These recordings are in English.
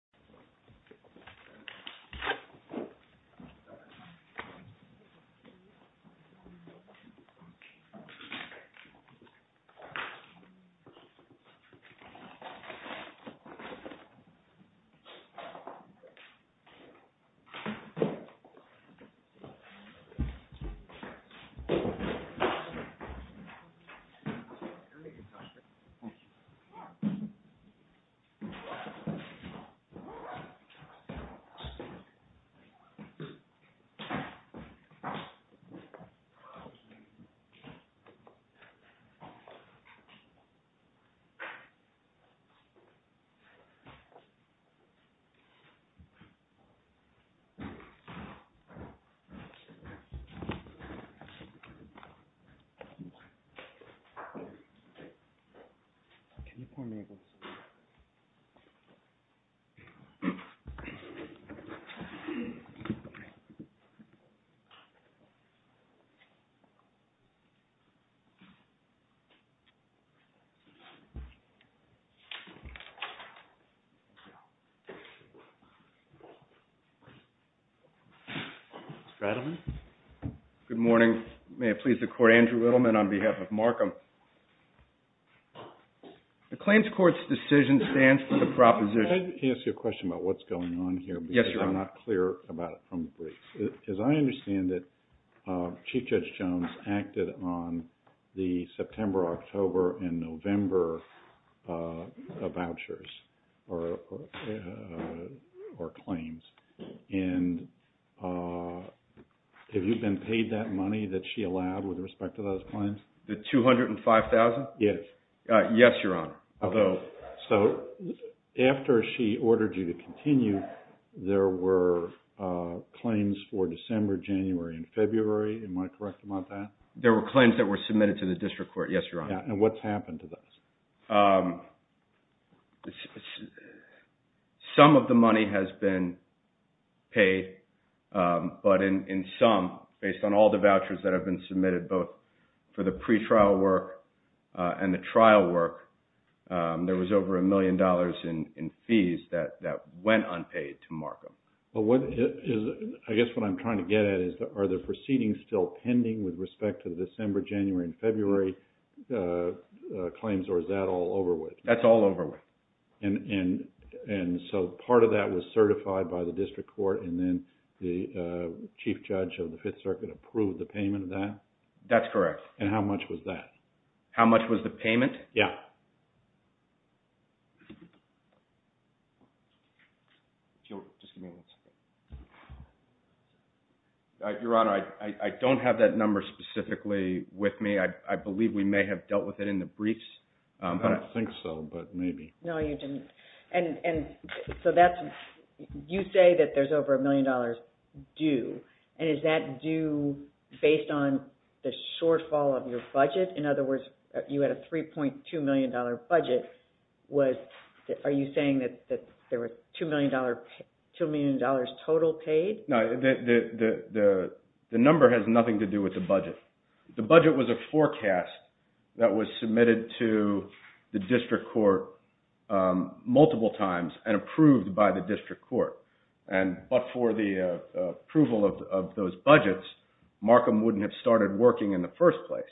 50 Can you pull me a bull? Thank you, Mr. Chairman. Mr. Adelman? Good morning. May it please the Court, Andrew Adelman on behalf of Markham. The Claims Court's decision stands for the proposition... May I ask you a question about what's going on here? Yes, Your Honor. Because I'm not clear about it from the briefs. As I understand it, Chief Judge Jones acted on the September, October, and November vouchers or claims. And have you been paid that money that she allowed with respect to those claims? The $205,000? Yes. Yes, Your Honor. So after she ordered you to continue, there were claims for December, January, and February. Am I correct about that? There were claims that were submitted to the District Court. Yes, Your Honor. And what's happened to those? Some of the money has been paid, but in sum, based on all the vouchers that have been submitted, both for the pretrial work and the trial work, there was over a million dollars in fees that went unpaid to Markham. But what is... I guess what I'm trying to get at is, are the proceedings still pending with respect to the December, January, and February claims, or is that all over with? That's all over with. And so part of that was certified by the District Court, and then the Chief Judge of the Fifth Circuit approved the payment of that? That's correct. And how much was that? How much was the payment? Yeah. Your Honor, I don't have that number specifically with me. I believe we may have dealt with it in the briefs. I don't think so, but maybe. No, you didn't. You say that there's over a million dollars due, and is that due based on the shortfall of your budget? In other words, you had a $3.2 million budget. Are you saying that there was $2 million total paid? No, the number has nothing to do with the budget. The budget was a forecast that was submitted to the District Court multiple times and approved by the District Court. But for the approval of those budgets, Markham wouldn't have started working in the first place.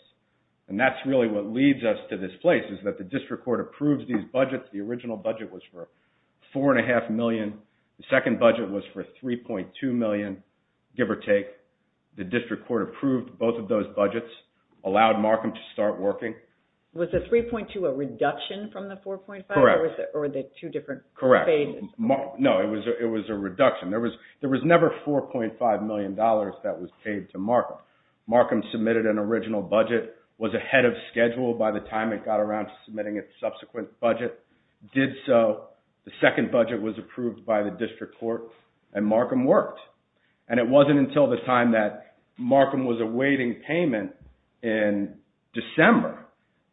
And that's really what leads us to this place, is that the District Court approves these budgets. The original budget was for $4.5 million. The second budget was for $3.2 million, give or take. The District Court approved both of those budgets, allowed Markham to start working. Was the $3.2 a reduction from the $4.5? Correct. Or were they two different phases? Correct. No, it was a reduction. There was never $4.5 million that was paid to Markham. Markham submitted an original budget, was ahead of schedule by the time it got around to submitting its subsequent budget, did so, the second budget was approved by the District Court, and Markham worked. And it wasn't until the time that Markham was awaiting payment in December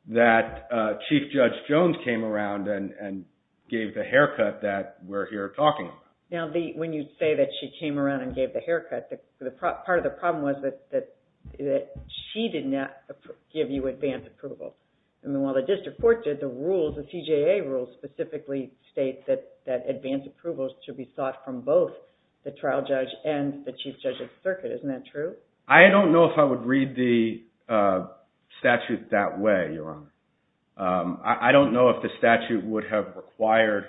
that Chief Judge Jones came around and gave the haircut that we're here talking about. Now, when you say that she came around and gave the haircut, part of the problem was that she did not give you advanced approval. And while the District Court did, the rules, the TJA rules specifically state that advanced approvals should be sought from both the trial judge and the Chief Judge of the Circuit. Isn't that true? I don't know if I would read the statute that way, Your Honor. I don't know if the statute would have required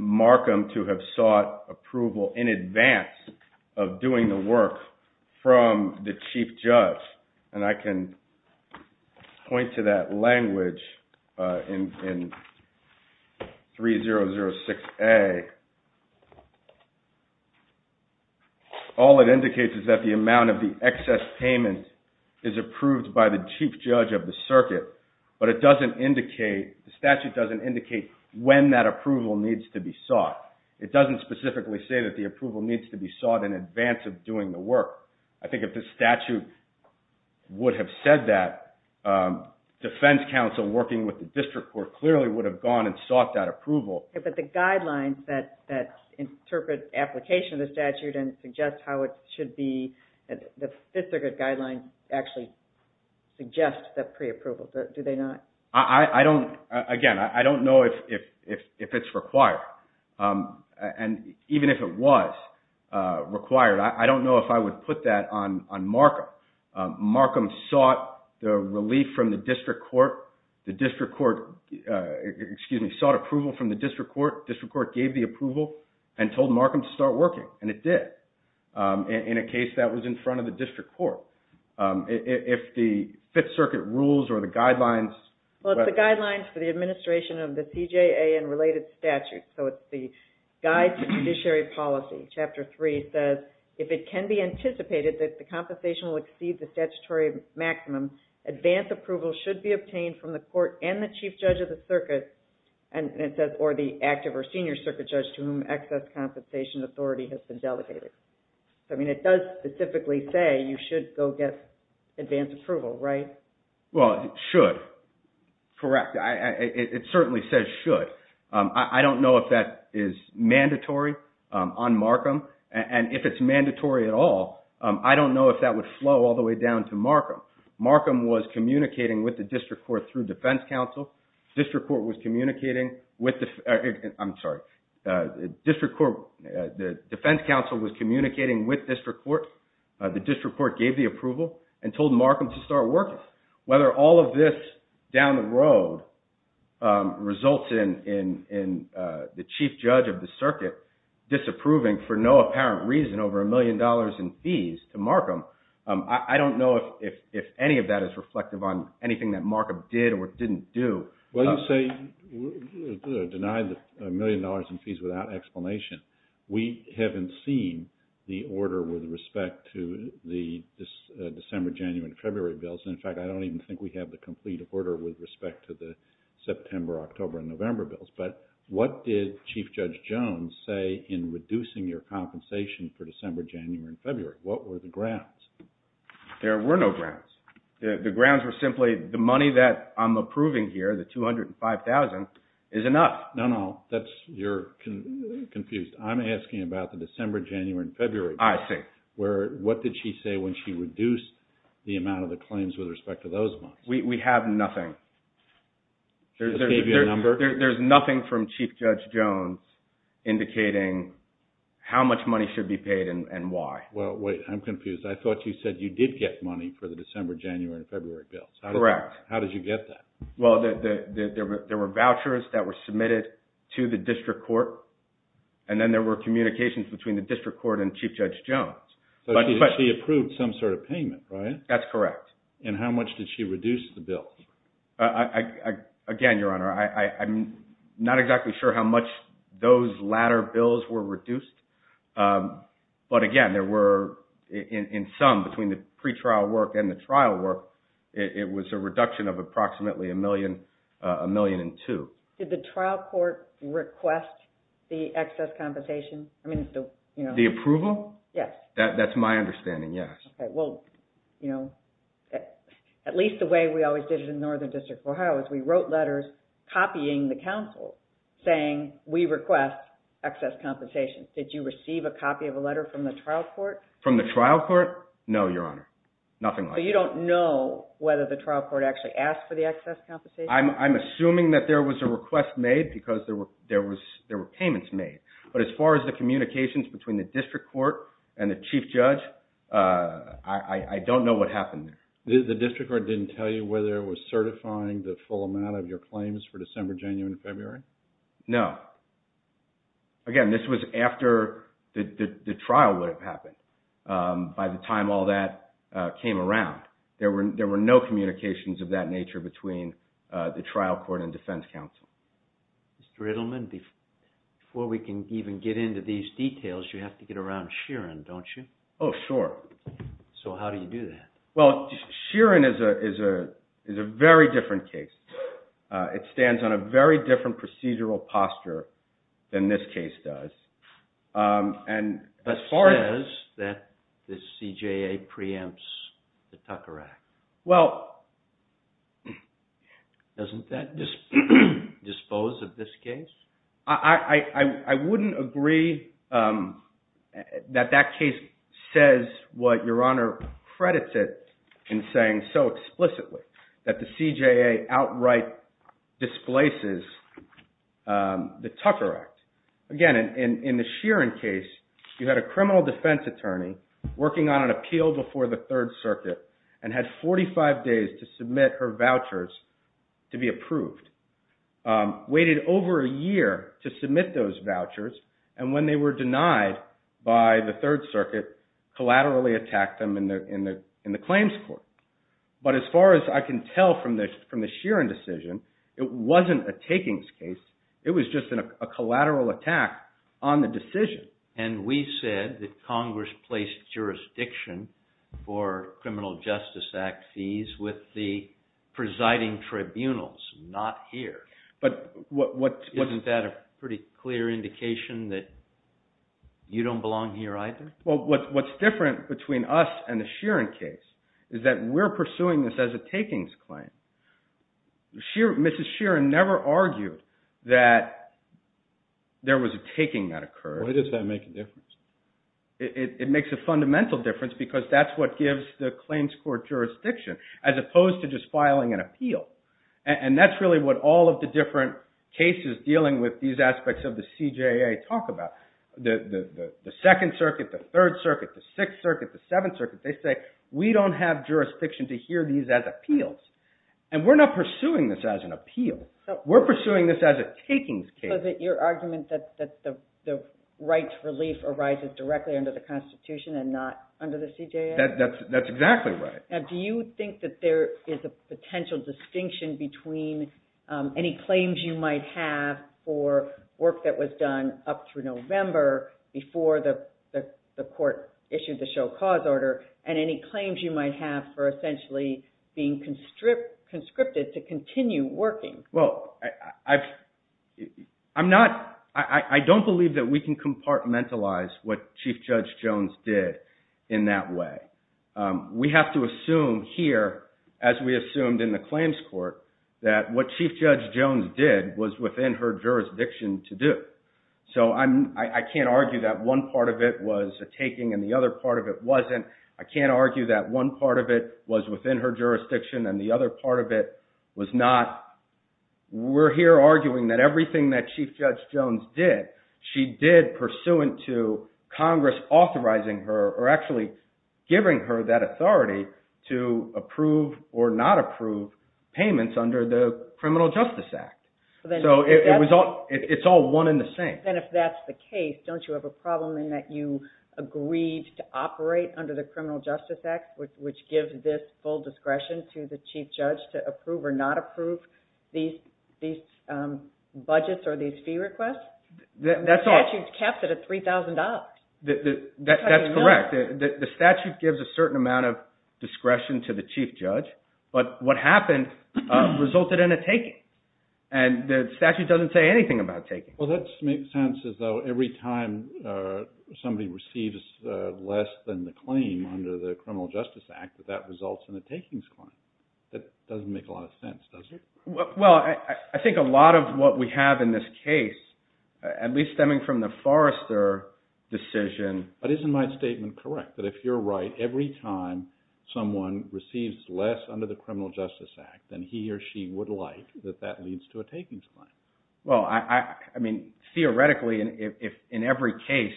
Markham to have sought approval in advance of doing the work from the Chief Judge. And I can point to that language in 3006A. All it indicates is that the amount of the excess payment is approved by the Chief Judge of the Circuit, but it doesn't indicate, the statute doesn't indicate when that approval needs to be sought. It doesn't specifically say that the approval needs to be sought in advance of doing the work. I think if the statute would have said that, defense counsel working with the District Court clearly would have gone and sought that approval. But the guidelines that interpret application of the statute and suggest how it should be, the Fifth Circuit guidelines actually suggest that pre-approval. Do they not? Again, I don't know if it's required. And even if it was required, I don't know if I would put that on Markham. Markham sought the relief from the District Court. The District Court, excuse me, sought approval from the District Court. District Court gave the approval and told Markham to start working, and it did. In a case that was in front of the District Court. If the Fifth Circuit rules or the guidelines... Well, it's the guidelines for the administration of the CJA and related statutes. It's the Guide to Judiciary Policy, Chapter 3 says, if it can be anticipated that the compensation will exceed the statutory maximum, advance approval should be obtained from the court and the chief judge of the circuit, or the active or senior circuit judge to whom excess compensation authority has been delegated. It does specifically say you should go get advance approval, right? Well, it should. Correct. It certainly says should. I don't know if that is mandatory on Markham, and if it's mandatory at all, I don't know if that would flow all the way down to Markham. Markham was communicating with the District Court through Defense Council. District Court was communicating with the... I'm sorry, the Defense Council was communicating with District Court. The District Court gave the approval and told Markham to start working. Whether all of this down the road results in the chief judge of the circuit disapproving for no apparent reason over a million dollars in fees to Markham, I don't know if any of that is reflective on anything that Markham did or didn't do. Well, you say, denied a million dollars in fees without explanation. We haven't seen the order with respect to the December, January, and February bills. In fact, I don't even think we have the complete order with respect to the September, October, and November bills, but what did Chief Judge Jones say in reducing your compensation for December, January, and February? What were the grounds? There were no grounds. The grounds were simply the money that I'm approving here, the $205,000 is enough. No, no, you're confused. I'm asking about the December, January, and February. I see. What did she say when she reduced the amount of the claims with respect to those months? We have nothing. There's nothing from Chief Judge Jones indicating how much money should be paid and why. Well, wait, I'm confused. I thought you said you did get money for the December, January, and February bills. Correct. How did you get that? Well, there were vouchers that were submitted to the district court, and then there were communications between the district court and Chief Judge Jones. So she approved some sort of payment, right? That's correct. And how much did she reduce the bills? Again, Your Honor, I'm not exactly sure how much those latter bills were reduced, but again, there were, in sum, between the pre-trial work and the trial work, it was a reduction of approximately a million and two. Did the trial court request the excess compensation? The approval? Yes. That's my understanding, yes. Okay, well, at least the way we always did it in Northern District, Ohio, is we wrote letters copying the counsel saying, we request excess compensation. Did you receive a copy of a letter from the trial court? From the trial court? No, Your Honor, nothing like that. So you don't know whether the trial court actually asked for the excess compensation? I'm assuming that there was a request made because there were payments made, but as far as the communications between the district court and the chief judge, I don't know what happened there. The district court didn't tell you whether it was certifying the full amount of your claims for December, January, and February? No. Again, this was after the trial would have happened, by the time all that came around. There were no communications of that nature between the trial court and defense counsel. Mr. Edelman, before we can even get into these details, you have to get around Sheeran, don't you? Oh, sure. So how do you do that? Well, Sheeran is a very different case. It stands on a very different procedural posture than this case does. As far as that the CJA preempts the Tucker Act, doesn't that dispose of this case? I wouldn't agree that that case says what Your Honor credits it in saying so explicitly, that the CJA outright displaces the Tucker Act. Again, in the Sheeran case, you had a criminal defense attorney working on an appeal before the Third Circuit, and had 45 days to submit her vouchers to be approved. Waited over a year to submit those vouchers, and when they were denied by the Third Circuit, collaterally attacked them in the claims court. But as far as I can tell from the Sheeran decision, it wasn't a takings case. It was just a collateral attack on the decision. And we said that Congress placed jurisdiction for Criminal Justice Act fees with the presiding tribunals, not here. Isn't that a pretty clear indication that you don't belong here either? Well, what's different between us and the Sheeran case is that we're pursuing this as a takings claim. Mrs. Sheeran never argued that there was a taking that occurred. Why does that make a difference? It makes a fundamental difference because that's what gives the claims court jurisdiction, as opposed to just filing an appeal. And that's really what all of the different cases dealing with these aspects of the CJA talk about. The Second Circuit, the Third Circuit, the Sixth Circuit, the Seventh Circuit, they say, we don't have jurisdiction to hear these as appeals. And we're not pursuing this as an appeal. We're pursuing this as a takings case. Your argument that the right to relief arises directly under the Constitution and not under the CJA? That's exactly right. Do you think that there is a potential distinction between any claims you might have for work that was done up through November before the court issued the show cause order, and any claims you might have for essentially being conscripted to continue working? Well, I don't believe that we can compartmentalize what Chief Judge Jones did in that way. We have to assume here, as we assumed in the claims court, that what Chief Judge Jones did was within her jurisdiction to do. So I can't argue that one part of it was a taking and the other part of it wasn't. I can't argue that one part of it was within her jurisdiction and the other part of it was not. We're here arguing that everything that Chief Judge Jones did, she did pursuant to Congress authorizing her or actually giving her that authority to approve or not approve payments under the Criminal Justice Act. So it's all one and the same. Then if that's the case, don't you have a problem in that you agreed to operate under the Criminal Justice Act, which gives this full discretion to the Chief Judge to approve or not approve these budgets or these fee requests? The statute caps it at $3,000. That's correct. The statute gives a certain amount of discretion to the Chief Judge, but what happened resulted in a taking. And the statute doesn't say anything about taking. Well, that makes sense as though every time somebody receives less than the claim under the Criminal Justice Act, that that results in a takings claim. That doesn't make a lot of sense, does it? Well, I think a lot of what we have in this case, at least stemming from the Forrester decision... But isn't my statement correct that if you're right, every time someone receives less under the Criminal Justice Act, then he or she would like that that leads to a takings claim? Well, I mean, theoretically, if in every case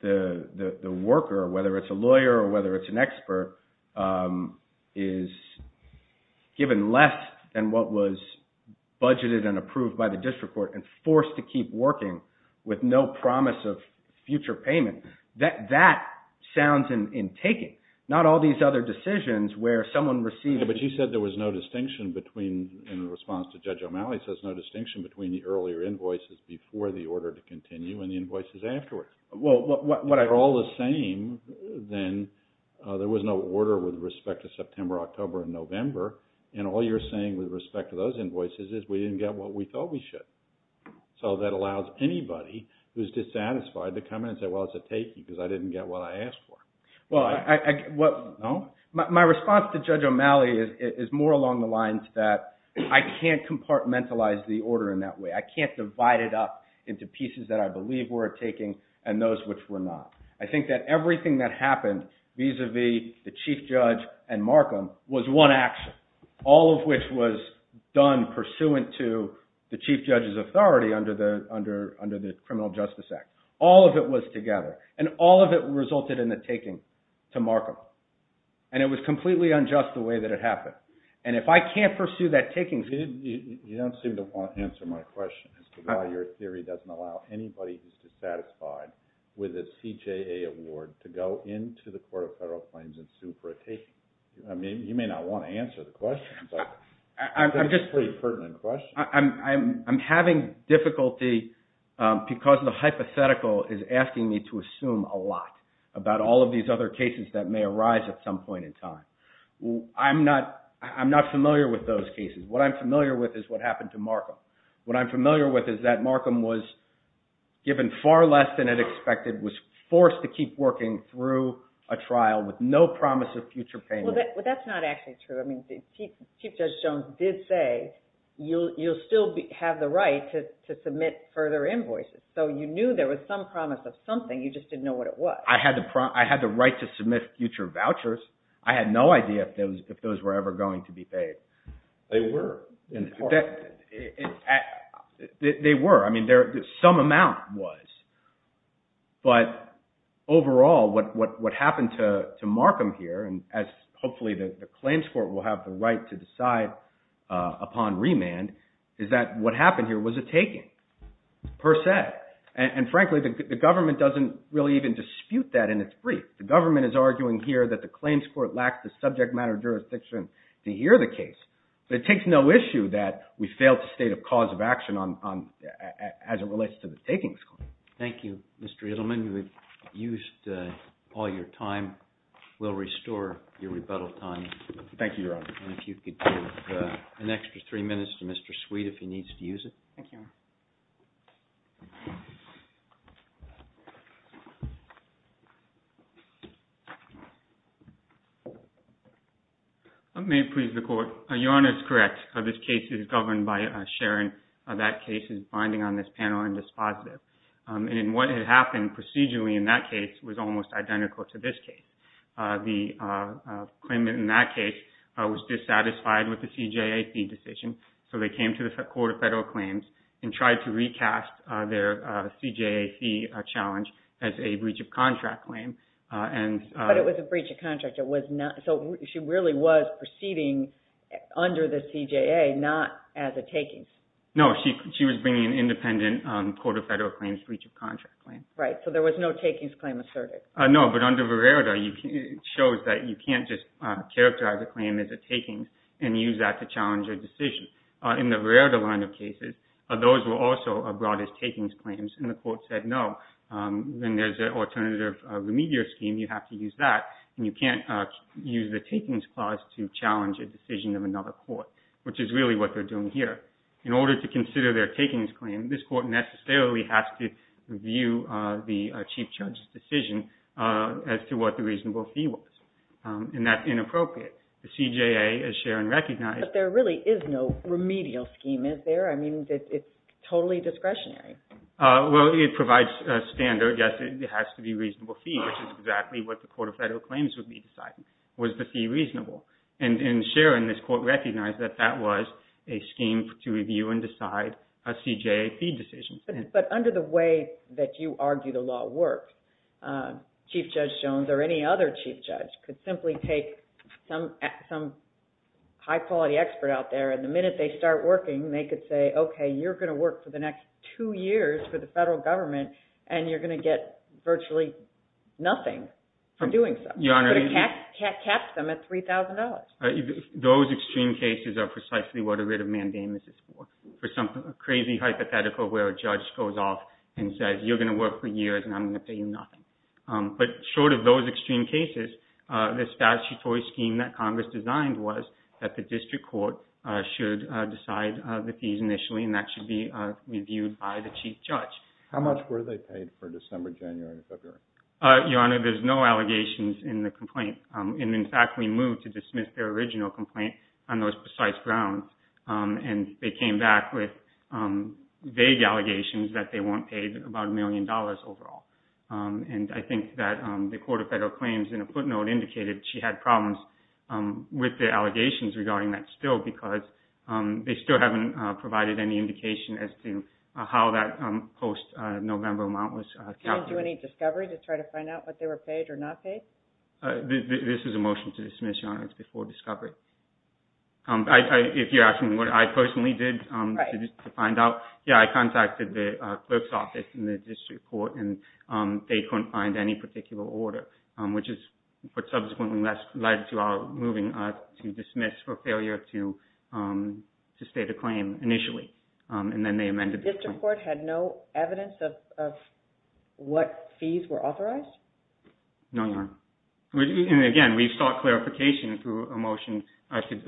the worker, whether it's a lawyer or whether it's an expert, is given less than what was budgeted and approved by the district court and forced to keep working with no promise of future payment, that sounds in taking. Not all these other decisions where someone receives... But you said there was no distinction between, in response to Judge O'Malley, says no distinction between the earlier invoices before the order to continue and the invoices afterwards. They're all the same. Then there was no order with respect to September, October, and November. And all you're saying with respect to those invoices is we didn't get what we thought we should. So that allows anybody who's dissatisfied to come in and say, well, it's a taking because I didn't get what I asked for. Well, my response to Judge O'Malley is more along the lines that I can't compartmentalize the order in that way. I can't divide it up into pieces that I believe were a taking and those which were not. I think that everything that happened vis-a-vis the chief judge and Markham was one action, all of which was done pursuant to the chief judge's authority under the Criminal Justice Act. All of it was together. And all of it resulted in the taking to Markham. And it was completely unjust the way that it happened. And if I can't pursue that taking... You don't seem to want to answer my question as to why your theory doesn't allow anybody who's dissatisfied with a CJA award to go into the Court of Federal Claims and sue for a taking. I mean, you may not want to answer the question, but it's a pretty pertinent question. I'm having difficulty because the hypothetical is asking me to assume a lot about all of these other cases that may arise at some point in time. I'm not familiar with those cases. What I'm familiar with is what happened to Markham. What I'm familiar with is that Markham was given far less than it expected, was forced to keep working through a trial with no promise of future payment. But that's not actually true. I mean, Chief Judge Jones did say, you'll still have the right to submit further invoices. So you knew there was some promise of something, you just didn't know what it was. I had the right to submit future vouchers. I had no idea if those were ever going to be paid. They were. They were. I mean, some amount was. But overall, what happened to Markham here, and hopefully the claims court will have the right to decide upon remand, is that what happened here was a taking, per se. And frankly, the government doesn't really even dispute that in its brief. The government is arguing here that the claims court lacks the subject matter jurisdiction to hear the case. So it takes no issue that we failed to state a cause of action as it relates to the takings claim. Thank you, Mr. Edelman. You have used all your time. We'll restore your rebuttal time. Thank you, Your Honor. And if you could give an extra three minutes to Mr. Sweet if he needs to use it. Thank you, Your Honor. Let me please the court. Your Honor is correct. This case is governed by Sharon. That case is binding on this panel and is positive. And what had happened procedurally in that case was almost identical to this case. The claimant in that case was dissatisfied with the CJAC decision. So they came to the Court of Federal Claims and tried to recast their CJAC challenge as a breach of contract claim. But it was a breach of contract. It was not. So she really was proceeding under the CJA, not as a takings. No, she was bringing an independent Court of Federal Claims breach of contract claim. Right. So there was no takings claim asserted. No, but under Vererda, it shows that you can't just characterize a claim as a takings and use that to challenge a decision. In the Vererda line of cases, those were also brought as takings claims. And the court said, no, then there's an alternative remedial scheme. You have to use that. And you can't use the takings clause to challenge a decision of another court, which is really what they're doing here. In order to consider their takings claim, this court necessarily has to challenge a decision as to what the reasonable fee was. And that's inappropriate. The CJA, as Sharon recognized... But there really is no remedial scheme, is there? I mean, it's totally discretionary. Well, it provides a standard. Yes, it has to be a reasonable fee, which is exactly what the Court of Federal Claims would be deciding. Was the fee reasonable? And Sharon, this court, recognized that that was a scheme to review and decide a CJA fee decision. But under the way that you argue the law works, Chief Judge Jones or any other chief judge could simply take some high-quality expert out there, and the minute they start working, they could say, okay, you're going to work for the next two years for the federal government, and you're going to get virtually nothing for doing so. You're going to catch them at $3,000. Those extreme cases are precisely what a writ of mandamus is for. For some crazy hypothetical where a judge goes off and says, you're going to work for years, and I'm going to pay you nothing. But short of those extreme cases, the statutory scheme that Congress designed was that the district court should decide the fees initially, and that should be reviewed by the chief judge. How much were they paid for December, January, and February? Your Honor, there's no allegations in the complaint. And in fact, we moved to dismiss their original complaint on those precise grounds, and they came back with vague allegations that they weren't paid about a million dollars overall. And I think that the Court of Federal Claims, in a footnote, indicated she had problems with the allegations regarding that still because they still haven't provided any indication as to how that post-November amount was calculated. Did you do any discovery to try to find out what they were paid or not paid? This is a motion to dismiss, Your Honor, it's before discovery. If you're asking what I personally did to find out, yeah, I contacted the clerk's office in the district court, and they couldn't find any particular order, which is what subsequently led to our moving to dismiss for failure to state a claim initially, and then they amended the claim. The district court had no evidence of what fees were authorized? No, Your Honor. And again, we sought clarification through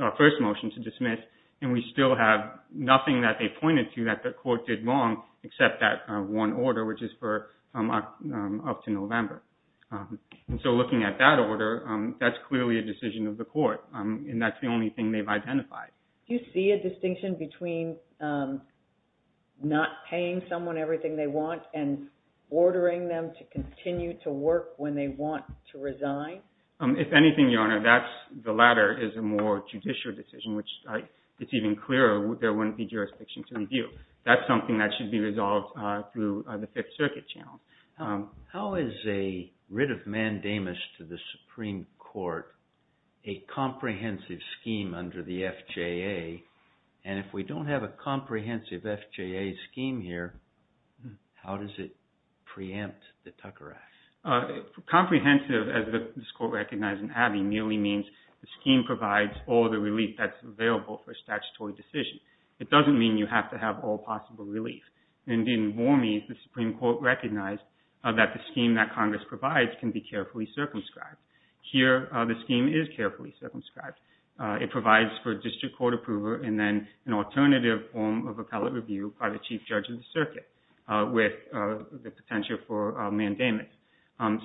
our first motion to dismiss, and we still have nothing that they pointed to that the court did wrong except that one order, which is for up to November. And so looking at that order, that's clearly a decision of the court, and that's the only thing they've identified. Do you see a distinction between not paying someone everything they want and ordering them to continue to work when they want to resign? If anything, Your Honor, that's the latter is a more judicial decision, which it's even clearer there wouldn't be jurisdiction to review. That's something that should be resolved through the Fifth Circuit channel. How is a writ of mandamus to the Supreme Court a comprehensive scheme under the FJA? And if we don't have a comprehensive FJA scheme here, how does it preempt the Tucker Act? Comprehensive, as this Court recognized in Abbey, merely means the scheme provides all the relief that's available for a statutory decision. It doesn't mean you have to have all possible relief. And even more means the Supreme Court recognized that the scheme that Congress provides can be carefully circumscribed. Here, the scheme is carefully circumscribed. It provides for district court approver and then an alternative form of appellate review by the Chief Judge of the Circuit with the potential for mandamus.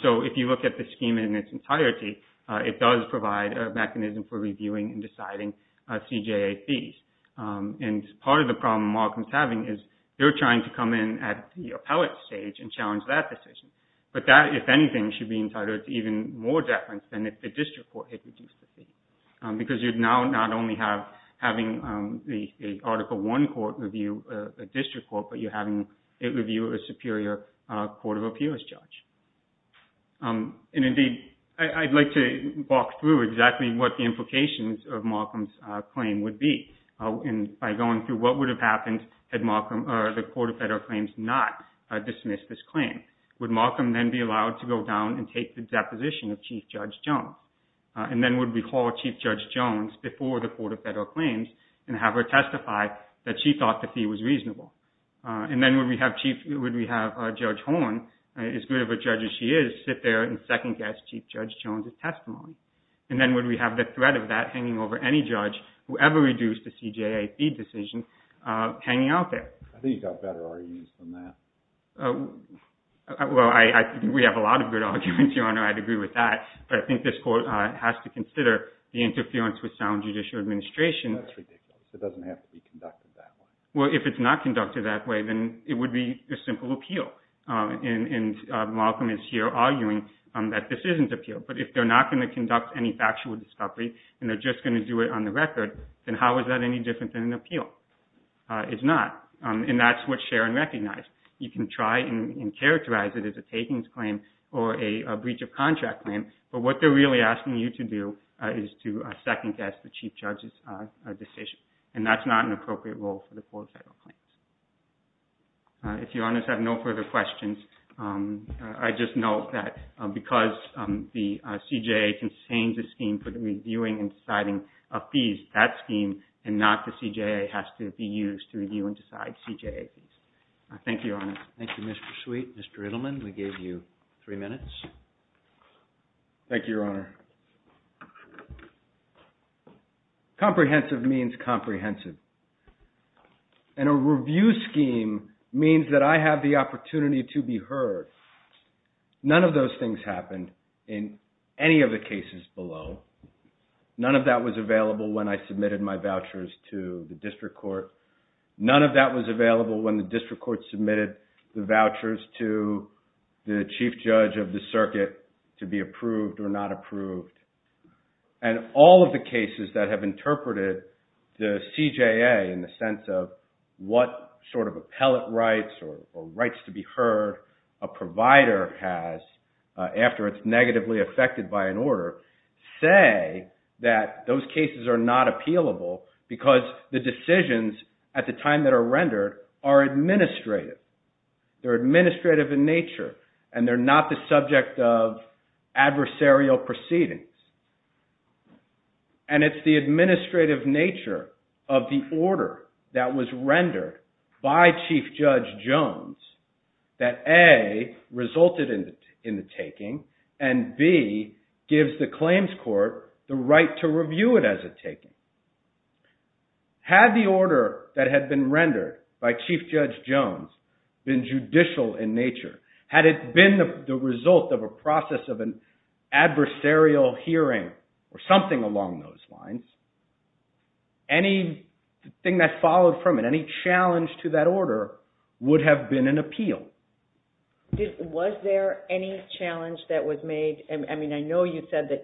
So if you look at the scheme in its entirety, it does provide a mechanism for reviewing and deciding CJA fees. And part of the problem Markham is having is they're trying to come in at the appellate stage and challenge that decision. But that, if anything, should be entitled to even more deference than if the district court had reduced the fee. Because you'd now not only have having the Article I court review a district court, but you're having it review a superior court of appeals judge. And indeed, I'd like to walk through exactly what the implications of Markham's claim would be by going through what would have happened had Markham or the Court of Federal Claims not dismissed this claim. Would Markham then be allowed to go down and take the deposition of Chief Judge Jones? And then would we call Chief Judge Jones before the Court of Federal Claims and have her testify that she thought the fee was reasonable? And then would we have Judge Horne, as good of a judge as she is, sit there and second guess Chief Judge Jones' testimony? And then would we have the threat of that hanging over any judge who ever reduced the CJA fee decision hanging out there? I think you've got better arguments than that. Well, I think we have a lot of good arguments, Your Honor. I'd agree with that. But I think this court has to consider the interference with sound judicial administration. That's ridiculous. It doesn't have to be conducted that way. Well, if it's not conducted that way, then it would be a simple appeal. And Markham is here arguing that this isn't appeal. But if they're not going to conduct any factual discovery and they're just going to do it on the record, then how is that any different than an appeal? It's not. And that's what Sharon recognized. You can try and characterize it as a takings claim or a breach of contract claim. But what they're really asking you to do is to second guess the Chief Judge's decision. And that's not an appropriate role for the court of federal claims. If Your Honors have no further questions, I just note that because the CJA can change the scheme for the reviewing and deciding of fees, that scheme and not the CJA has to be used to review and decide CJA fees. Thank you, Your Honor. Thank you, Mr. Sweet. Mr. Riddleman, we gave you three minutes. Thank you, Your Honor. Comprehensive means comprehensive. And a review scheme means that I have the opportunity to be heard. None of those things happened in any of the cases below. None of that was available when I submitted my vouchers to the district court. None of that was available when the district court submitted the vouchers to the Chief Judge of the circuit to be approved or not approved. And all of the cases that have interpreted the CJA in the sense of what sort of appellate rights or rights to be heard a provider has after it's negatively affected by an order, say that those cases are not appealable because the decisions at the time that are rendered are administrative. They're administrative in nature and they're not the subject of adversarial proceedings. And it's the administrative nature of the order that was rendered by Chief Judge Jones that A, resulted in the taking and B, gives the claims court the right to review it as a taking. Had the order that had been rendered by Chief Judge Jones been judicial in nature, had it been the result of a process of an adversarial hearing or something along those lines, anything that followed from it, any challenge to that order would have been an appeal. Was there any challenge that was made? I mean, I know you said that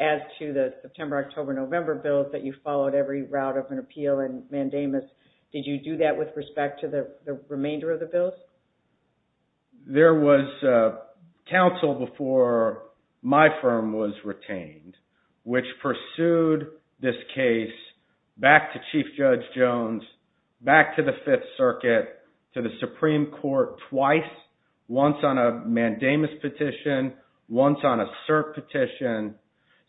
as to the September, October, November bills that you followed every route of an appeal and mandamus. Did you do that with respect to the remainder of the bills? There was counsel before my firm was retained, which pursued this case back to Chief Judge Jones, back to the Fifth Circuit, to the Supreme Court twice, once on a mandamus petition, once on a cert petition.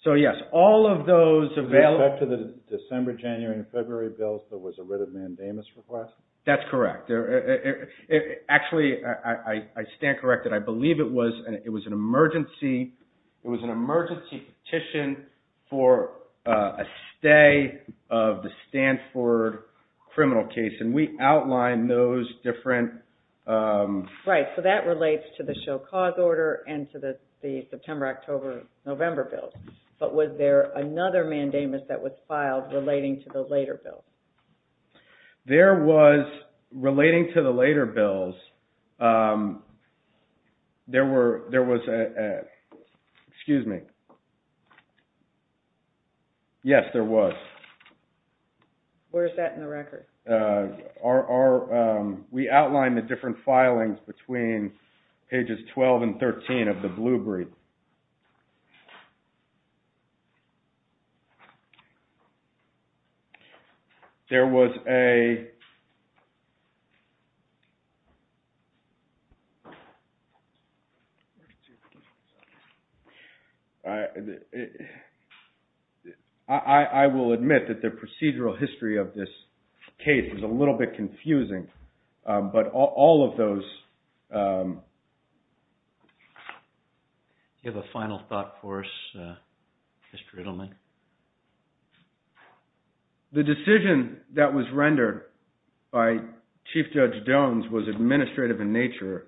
So yes, all of those available... With respect to the December, January, and February bills, there was a writ of mandamus request? That's correct. It actually, I stand corrected. I believe it was an emergency petition for a stay of the Stanford criminal case. And we outlined those different... Right. So that relates to the show cause order and to the September, October, November bills. But was there another mandamus that was filed relating to the later bills? There was, relating to the later bills, there was a, excuse me, yes, there was. Where's that in the record? We outlined the different filings between pages 12 and 13 of the Blue Brief. There was a... I will admit that the procedural history of this case is a little bit confusing. But all of those... Do you have a final thought for us, Mr. Edelman? The decision that was rendered by Chief Judge Jones was administrative in nature.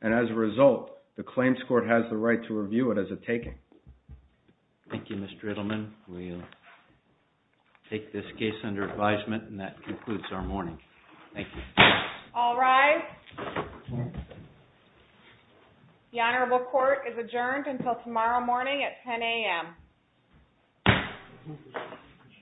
And as a result, the Claims Court has the right to review it as a taking. Thank you, Mr. Edelman. We'll take this case under advisement and that concludes our morning. Thank you. All rise. The Honorable Court is adjourned until tomorrow morning at 10 a.m. Thank you.